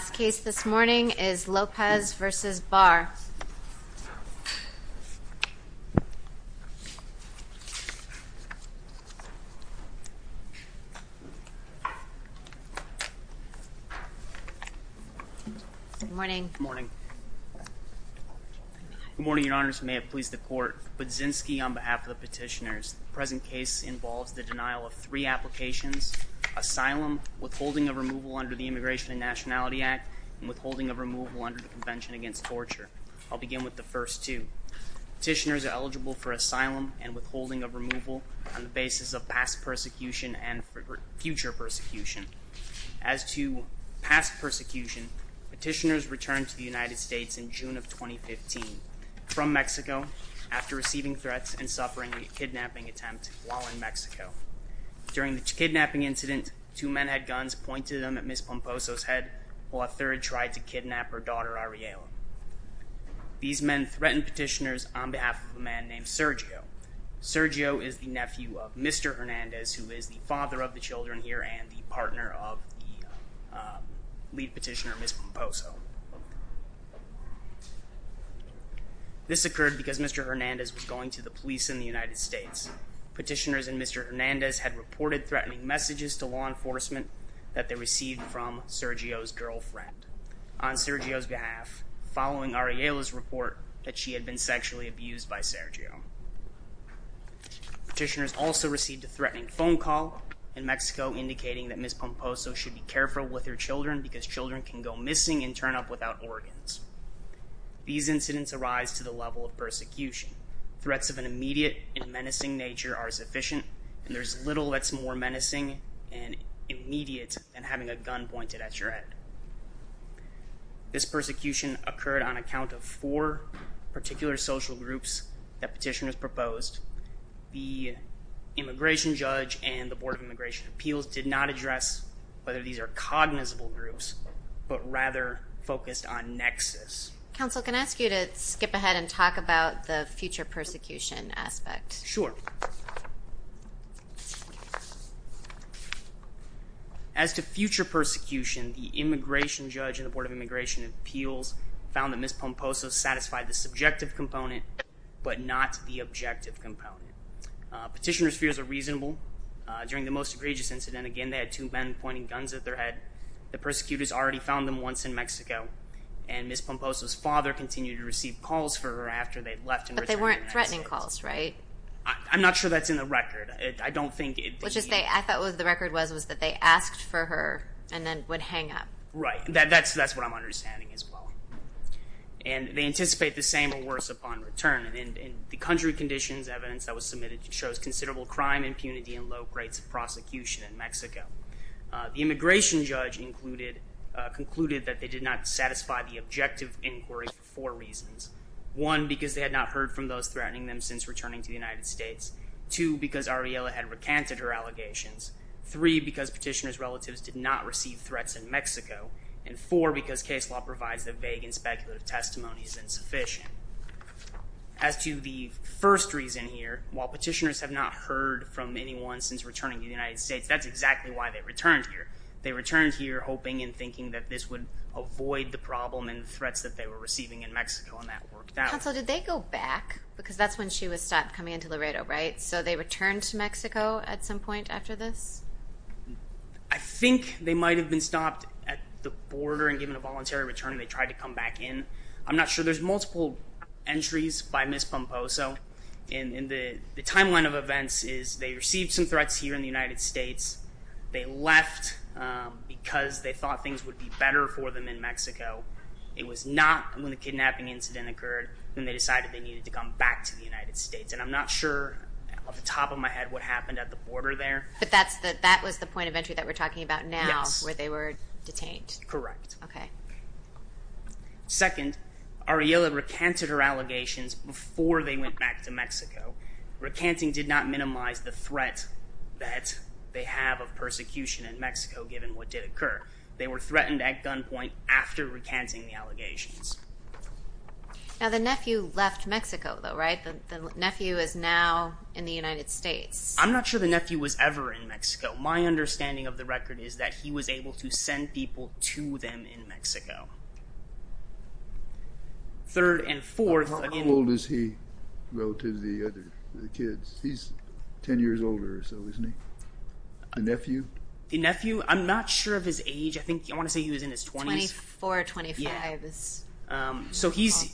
The last case this morning is Lopez v. Barr. Good morning. Good morning, Your Honors. May it please the Court. Budzinski on behalf of the petitioners. The present case involves the denial of three applications. Asylum, withholding of removal under the Immigration and Nationality Act, and withholding of removal under the Convention Against Torture. I'll begin with the first two. Petitioners are eligible for asylum and withholding of removal on the basis of past persecution and future persecution. As to past persecution, petitioners returned to the United States in June of 2015 from Mexico after receiving threats and suffering a kidnapping attempt while in Mexico. During the kidnapping incident, two men had guns pointed at Ms. Pomposo's head while a third tried to kidnap her daughter, Ariella. These men threatened petitioners on behalf of a man named Sergio. Sergio is the nephew of Mr. Hernandez, who is the father of the children here and the partner of the lead petitioner, Ms. Pomposo. This occurred because Mr. Hernandez was going to the police in the United States. Petitioners and Mr. Hernandez had reported threatening messages to law enforcement that they received from Sergio's girlfriend on Sergio's behalf, following Ariella's report that she had been sexually abused by Sergio. Petitioners also received a threatening phone call in Mexico indicating that Ms. Pomposo should be careful with her children because children can go missing and turn up without organs. These incidents arise to the level of persecution. Threats of an immediate and menacing nature are sufficient, and there's little that's more menacing and immediate than having a gun pointed at your head. This persecution occurred on account of four particular social groups that petitioners proposed. The Immigration Judge and the Board of Immigration Appeals did not address whether these are cognizable groups, but rather focused on nexus. Counsel, can I ask you to skip ahead and talk about the future persecution aspect? Sure. As to future persecution, the Immigration Judge and the Board of Immigration Appeals found that Ms. Pomposo satisfied the subjective component but not the objective component. Petitioners' fears are reasonable. During the most egregious incident, again, they had two men pointing guns at their head. The persecutors already found them once in Mexico, and Ms. Pomposo's father continued to receive calls for her after they'd left and returned to the United States. But they weren't threatening calls, right? I'm not sure that's in the record. I thought what the record was was that they asked for her and then would hang up. Right. That's what I'm understanding as well. And they anticipate the same or worse upon return. In the country conditions evidence that was submitted shows considerable crime, impunity, and low rates of prosecution in Mexico. The Immigration Judge concluded that they did not satisfy the objective inquiry for four reasons. One, because they had not heard from those threatening them since returning to the United States. Two, because Ariella had recanted her allegations. Three, because petitioners' relatives did not receive threats in Mexico. And four, because case law provides that vague and speculative testimony is insufficient. As to the first reason here, while petitioners have not heard from anyone since returning to the United States, that's exactly why they returned here. They returned here hoping and thinking that this would avoid the problem and threats that they were receiving in Mexico, and that worked out. Counsel, did they go back? Because that's when she was stopped coming into Laredo, right? So they returned to Mexico at some point after this? I think they might have been stopped at the border and given a voluntary return, and they tried to come back in. I'm not sure. There's multiple entries by Ms. Pomposo. The timeline of events is they received some threats here in the United States. They left because they thought things would be better for them in Mexico. It was not when the kidnapping incident occurred when they decided they needed to come back to the United States. And I'm not sure off the top of my head what happened at the border there. But that was the point of entry that we're talking about now, where they were detained. Correct. Second, Ariella recanted her allegations before they went back to Mexico. Recanting did not minimize the threat that they have of persecution in Mexico, given what did occur. They were threatened at gunpoint after recanting the allegations. Now, the nephew left Mexico, though, right? The nephew is now in the United States. I'm not sure the nephew was ever in Mexico. My understanding of the record is that he was able to send people to them in Mexico. Third and fourth. How old is he relative to the other kids? He's 10 years older or so, isn't he? The nephew? The nephew, I'm not sure of his age. I want to say he was in his 20s. 24, 25. So he's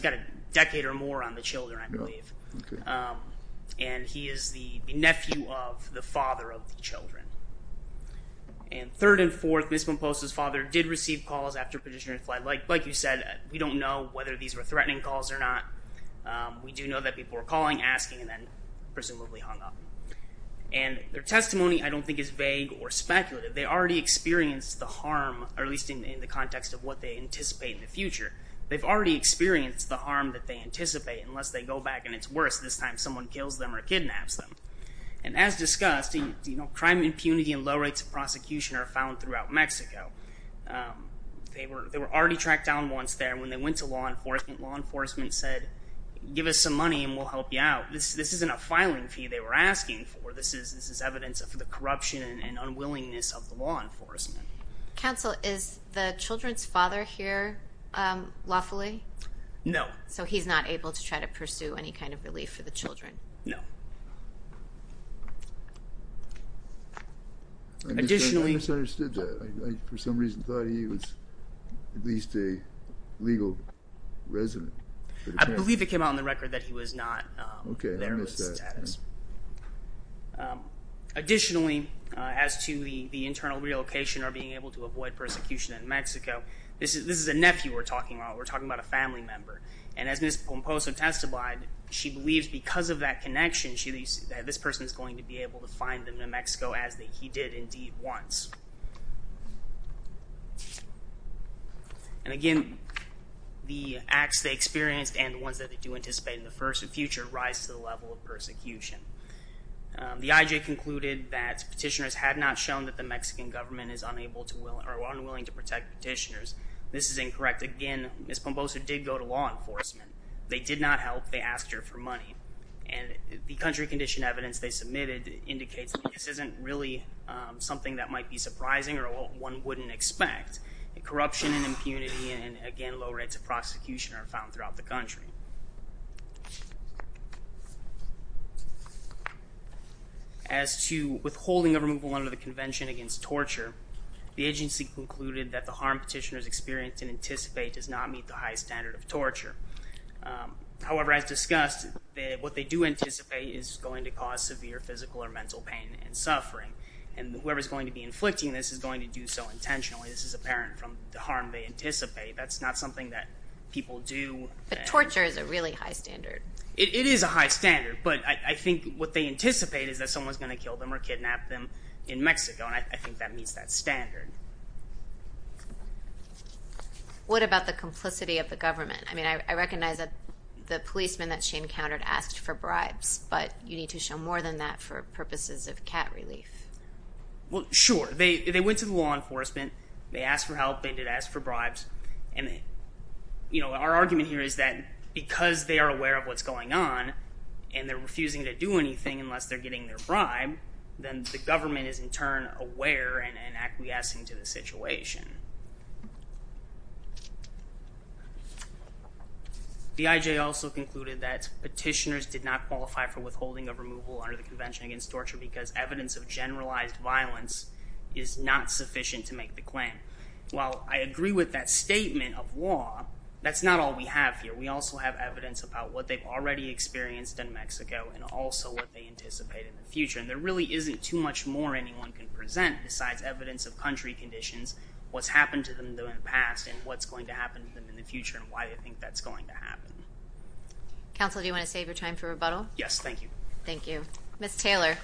got a decade or more on the children, I believe. And he is the nephew of the father of the children. And third and fourth, Ms. Pomposa's father did receive calls after petitioner fled. Like you said, we don't know whether these were threatening calls or not. We do know that people were calling, asking, and then presumably hung up. And their testimony, I don't think, is vague or speculative. They already experienced the harm, or at least in the context of what they anticipate in the future. They've already experienced the harm that they anticipate unless they go back and it's worse. This time someone kills them or kidnaps them. And as discussed, crime impunity and low rates of prosecution are found throughout Mexico. They were already tracked down once there when they went to law enforcement. Law enforcement said, give us some money and we'll help you out. This isn't a filing fee they were asking for. This is evidence of the corruption and unwillingness of the law enforcement. Counsel, is the children's father here lawfully? No. So he's not able to try to pursue any kind of relief for the children? No. I misunderstood that. I, for some reason, thought he was at least a legal resident. I believe it came out in the record that he was not there in his status. Additionally, as to the internal relocation or being able to avoid persecution in Mexico, this is a nephew we're talking about. We're talking about a family member. And as Ms. Pomposa testified, she believes because of that connection, this person is going to be able to find them in Mexico as he did indeed once. And again, the acts they experienced and the ones that they do anticipate in the future rise to the level of persecution. The IJ concluded that petitioners had not shown that the Mexican government is unwilling to protect petitioners. This is incorrect. Again, Ms. Pomposa did go to law enforcement. They did not help. They asked her for money. And the country condition evidence they submitted indicates that this isn't really something that might be surprising or one wouldn't expect. Corruption and impunity and, again, low rates of prosecution are found throughout the country. As to withholding a removal under the Convention Against Torture, the agency concluded that the harm petitioners experience and anticipate does not meet the high standard of torture. However, as discussed, what they do anticipate is going to cause severe physical or mental pain and suffering. And whoever is going to be inflicting this is going to do so intentionally. This is apparent from the harm they anticipate. That's not something that people do. But torture is a really high standard. It is a high standard, but I think what they anticipate is that someone is going to kill them or kidnap them in Mexico, and I think that meets that standard. What about the complicity of the government? I mean, I recognize that the policeman that she encountered asked for bribes, but you need to show more than that for purposes of cat relief. Well, sure. They went to the law enforcement. They asked for help. They did ask for bribes. Our argument here is that because they are aware of what's going on and they're refusing to do anything unless they're getting their bribe, then the government is in turn aware and acquiescing to the situation. The IJ also concluded that petitioners did not qualify for withholding a removal under the Convention Against Torture because evidence of generalized violence is not sufficient to make the claim. While I agree with that statement of law, that's not all we have here. We also have evidence about what they've already experienced in Mexico and also what they anticipate in the future, and there really isn't too much more anyone can present besides evidence of country conditions, what's happened to them in the past, and what's going to happen to them in the future and why they think that's going to happen. Counsel, do you want to save your time for rebuttal? Yes, thank you. Thank you. Ms. Taylor.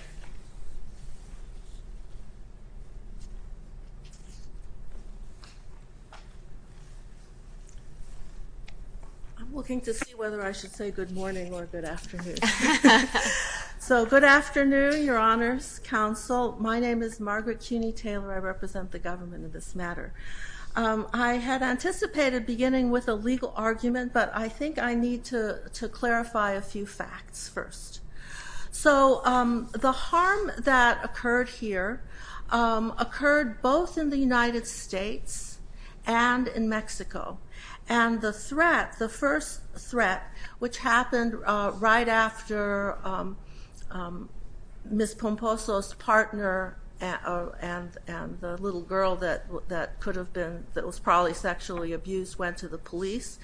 I'm looking to see whether I should say good morning or good afternoon. So good afternoon, Your Honors, Counsel. My name is Margaret Cuney Taylor. I represent the government in this matter. I had anticipated beginning with a legal argument, but I think I need to clarify a few facts first. So the harm that occurred here occurred both in the United States and in Mexico, and the threat, the first threat, which happened right after Ms. Pomposo's partner and the little girl that could have been, that was probably sexually abused, went to the police,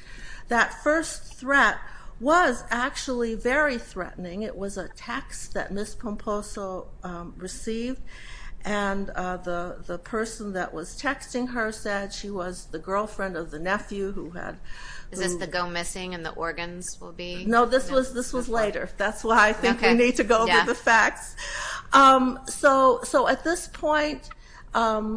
that first threat was actually very threatening. It was a text that Ms. Pomposo received, and the person that was texting her said she was the girlfriend of the nephew. Is this the go missing and the organs will be? No, this was later. That's why I think we need to go over the facts. So at this point, a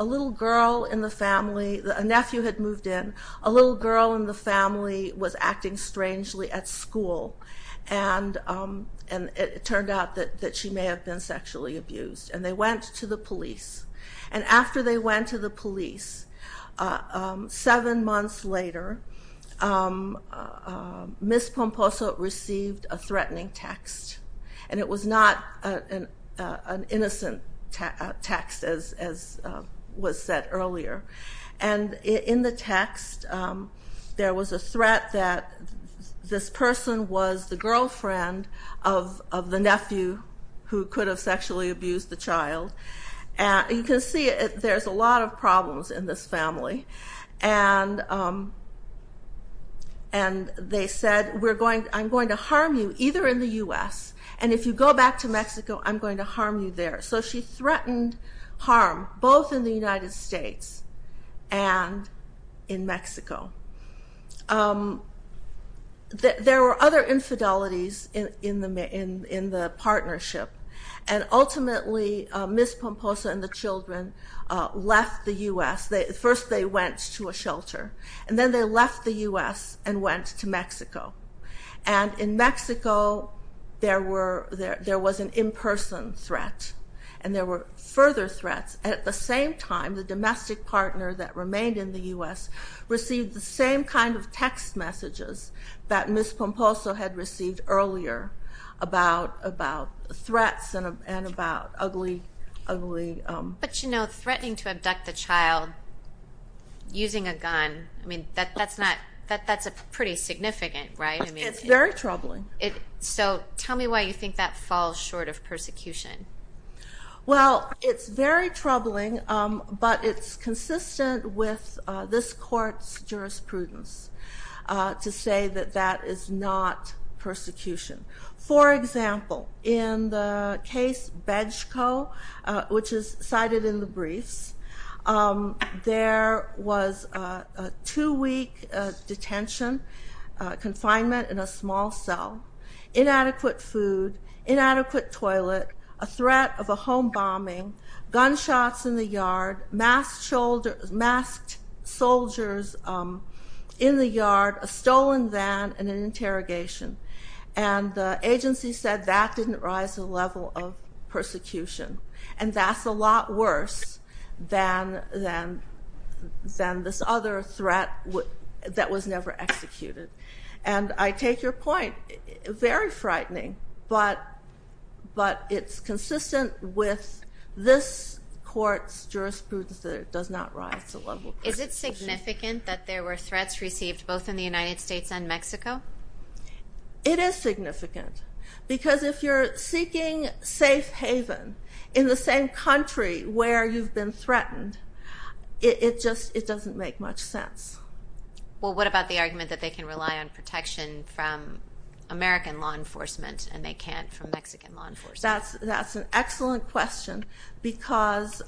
little girl in the family, a nephew had moved in. A little girl in the family was acting strangely at school, and it turned out that she may have been sexually abused, and they went to the police. And after they went to the police, seven months later, Ms. Pomposo received a threatening text, and it was not an innocent text as was said earlier. And in the text, there was a threat that this person was the girlfriend of the nephew who could have sexually abused the child. You can see there's a lot of problems in this family, and they said, I'm going to harm you either in the U.S., and if you go back to Mexico, I'm going to harm you there. So she threatened harm both in the United States and in Mexico. There were other infidelities in the partnership, and ultimately Ms. Pomposo and the children left the U.S. First they went to a shelter, and then they left the U.S. and went to Mexico. And in Mexico, there was an in-person threat, and there were further threats. At the same time, the domestic partner that remained in the U.S. received the same kind of text messages that Ms. Pomposo had received earlier about threats and about ugly... But, you know, threatening to abduct the child using a gun, I mean, that's pretty significant, right? It's very troubling. So tell me why you think that falls short of persecution. Well, it's very troubling, but it's consistent with this court's jurisprudence to say that that is not persecution. For example, in the case Bejko, which is cited in the briefs, there was a two-week detention, confinement in a small cell, inadequate food, inadequate toilet, a threat of a home bombing, gunshots in the yard, masked soldiers in the yard, a stolen van, and an interrogation. And the agency said that didn't rise to the level of persecution. And that's a lot worse than this other threat that was never executed. And I take your point. Very frightening, but it's consistent with this court's jurisprudence that it does not rise to the level of persecution. Is it significant that there were threats received both in the United States and Mexico? It is significant. Because if you're seeking safe haven in the same country where you've been threatened, it doesn't make much sense. Well, what about the argument that they can rely on protection from American law enforcement and they can't from Mexican law enforcement? That's an excellent question because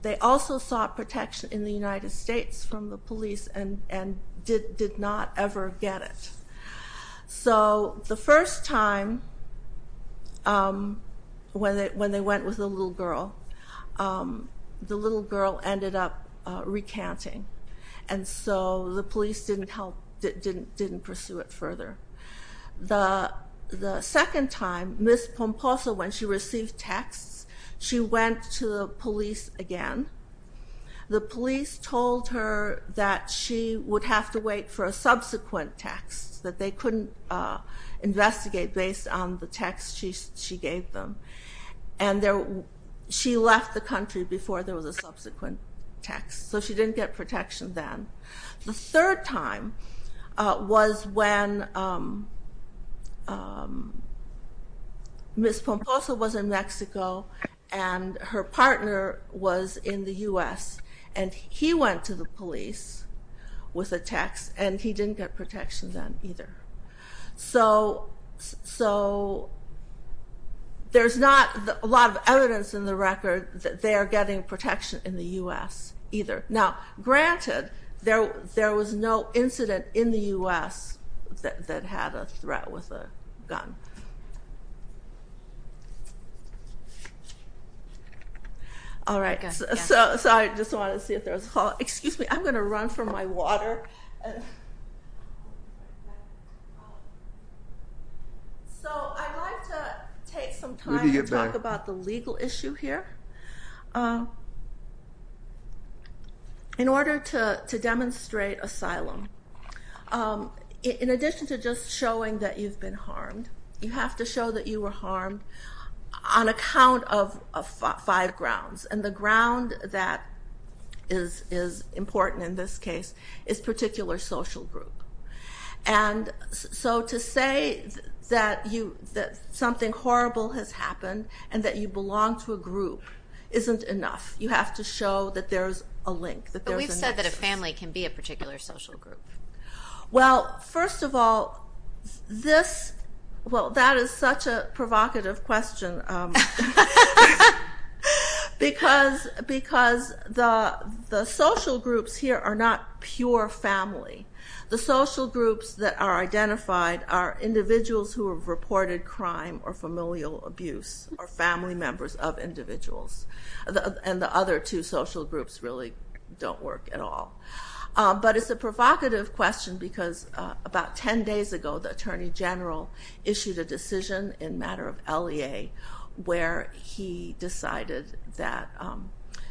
they also sought protection in the United States from the police and did not ever get it. So the first time when they went with the little girl, the little girl ended up recanting, and so the police didn't pursue it further. The second time, Ms. Pomposa, when she received texts, she went to the police again. The police told her that she would have to wait for a subsequent text, that they couldn't investigate based on the text she gave them. And she left the country before there was a subsequent text, so she didn't get protection then. The third time was when Ms. Pomposa was in Mexico and her partner was in the U.S., and he went to the police with a text, and he didn't get protection then either. So there's not a lot of evidence in the record that they are getting protection in the U.S. either. Now, granted, there was no incident in the U.S. that had a threat with a gun. All right. So I just wanted to see if there was a call. Excuse me. I'm going to run for my water. So I'd like to take some time to talk about the legal issue here. In order to demonstrate asylum, in addition to just showing that you've been harmed, you have to show that you were harmed on account of five grounds. And the ground that is important in this case is particular social group. And so to say that something horrible has happened and that you belong to a group isn't enough. You have to show that there's a link, that there's a nexus. But we've said that a family can be a particular social group. Well, first of all, that is such a provocative question because the social groups here are not pure family. The social groups that are identified are individuals who have reported crime or familial abuse or family members of individuals. And the other two social groups really don't work at all. But it's a provocative question because about 10 days ago, the Attorney General issued a decision in a matter of LEA where he decided that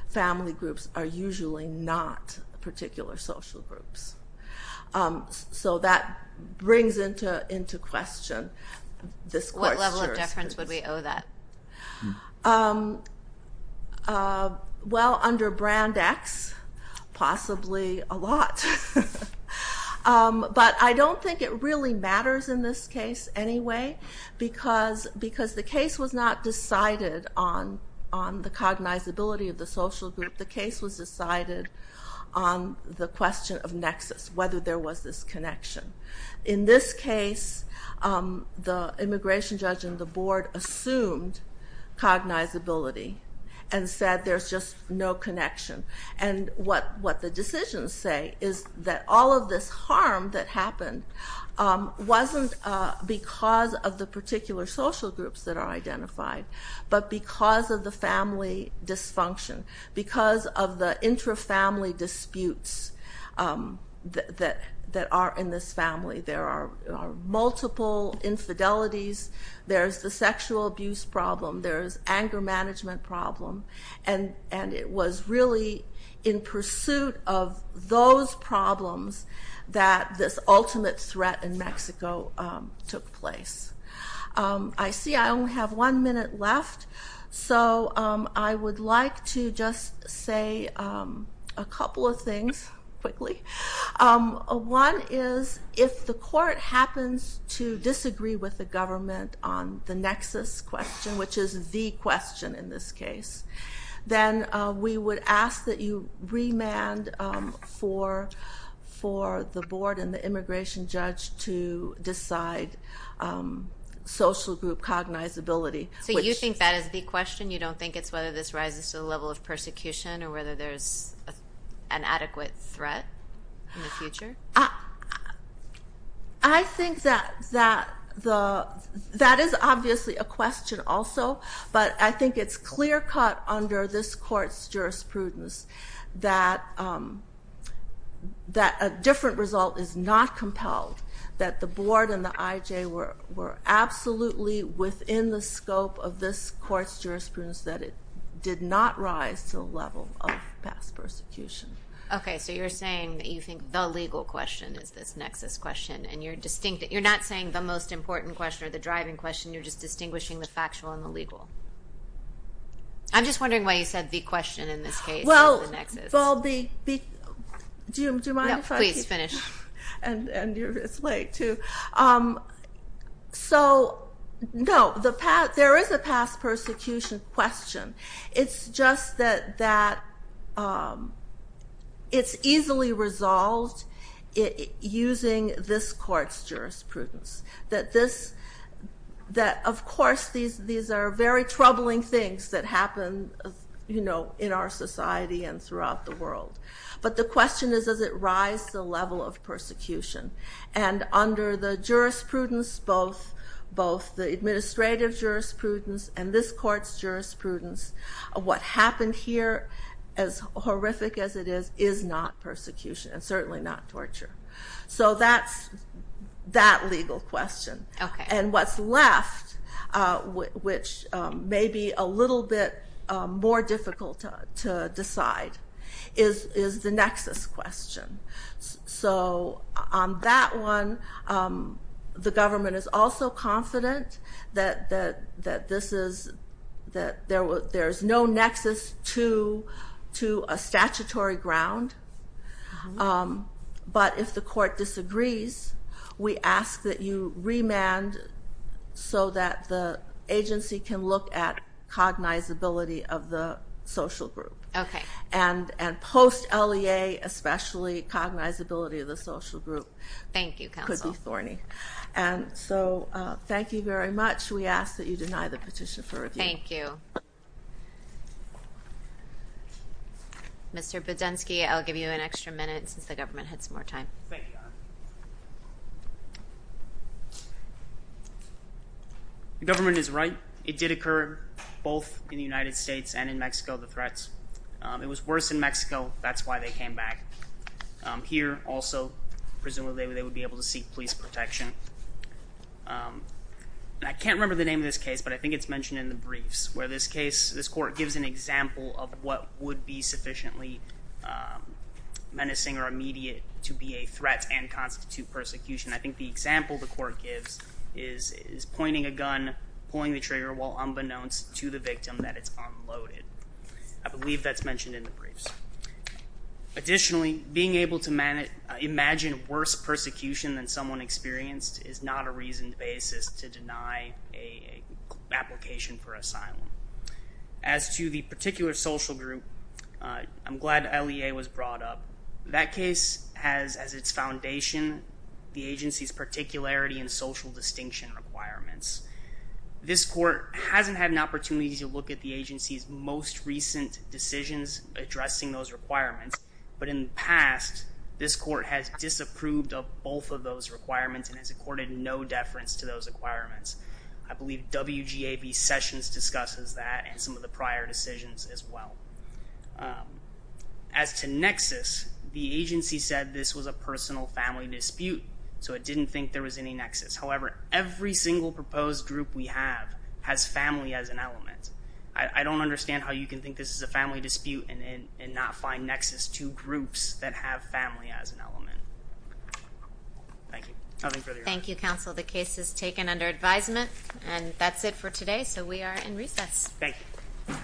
family groups are usually not particular social groups. So that brings into question this question. What level of deference would we owe that? Well, under Brand X, possibly a lot. But I don't think it really matters in this case anyway because the case was not decided on the cognizability of the social group. The case was decided on the question of nexus, whether there was this connection. In this case, the immigration judge and the board assumed cognizability and said there's just no connection. And what the decisions say is that all of this harm that happened wasn't because of the particular social groups that are identified but because of the family dysfunction, because of the intra-family disputes that are in this family. There are multiple infidelities. There's the sexual abuse problem. There's anger management problem. And it was really in pursuit of those problems that this ultimate threat in Mexico took place. I see I only have one minute left, so I would like to just say a couple of things quickly. One is if the court happens to disagree with the government on the nexus question, which is the question in this case, then we would ask that you remand for the board and the immigration judge to decide social group cognizability. So you think that is the question? You don't think it's whether this rises to the level of persecution or whether there's an adequate threat in the future? I think that is obviously a question also, but I think it's clear-cut under this court's jurisprudence that a different result is not compelled, that the board and the IJ were absolutely within the scope of this court's jurisprudence, that it did not rise to the level of past persecution. Okay, so you're saying that you think the legal question is this nexus question, and you're not saying the most important question or the driving question. You're just distinguishing the factual and the legal. I'm just wondering why you said the question in this case is the nexus. Well, do you mind if I finish? No, please finish. And you're this late, too. So, no, there is a past persecution question. It's just that it's easily resolved using this court's jurisprudence, that, of course, these are very troubling things that happen in our society and throughout the world. But the question is, does it rise to the level of persecution? And under the jurisprudence, both the administrative jurisprudence and this court's jurisprudence, what happened here, as horrific as it is, is not persecution and certainly not torture. So that's that legal question. Okay. And what's left, which may be a little bit more difficult to decide, is the nexus question. So on that one, the government is also confident that there is no nexus to a statutory ground. But if the court disagrees, we ask that you remand so that the agency can look at cognizability of the social group. Okay. And post-LEA, especially, cognizability of the social group. Thank you, counsel. Could be thorny. And so thank you very much. We ask that you deny the petition for review. Thank you. Mr. Budensky, I'll give you an extra minute since the government had some more time. Thank you. The government is right. It did occur both in the United States and in Mexico, the threats. It was worse in Mexico. That's why they came back. Here, also, presumably they would be able to seek police protection. I can't remember the name of this case, but I think it's mentioned in the briefs where this case, this court gives an example of what would be sufficiently menacing or immediate to be a threat and constitute persecution. I think the example the court gives is pointing a gun, pulling the trigger while unbeknownst to the victim that it's unloaded. I believe that's mentioned in the briefs. Additionally, being able to imagine worse persecution than someone experienced is not a reasoned basis to deny an application for asylum. As to the particular social group, I'm glad LEA was brought up. That case has as its foundation the agency's particularity and social distinction requirements. This court hasn't had an opportunity to look at the agency's most recent decisions addressing those requirements, but in the past this court has disapproved of both of those requirements and has accorded no deference to those requirements. I believe WGAB sessions discusses that and some of the prior decisions as well. As to nexus, the agency said this was a personal family dispute, so it didn't think there was any nexus. However, every single proposed group we have has family as an element. I don't understand how you can think this is a family dispute Thank you. Thank you, counsel. The case is taken under advisement, and that's it for today, so we are in recess. Thank you.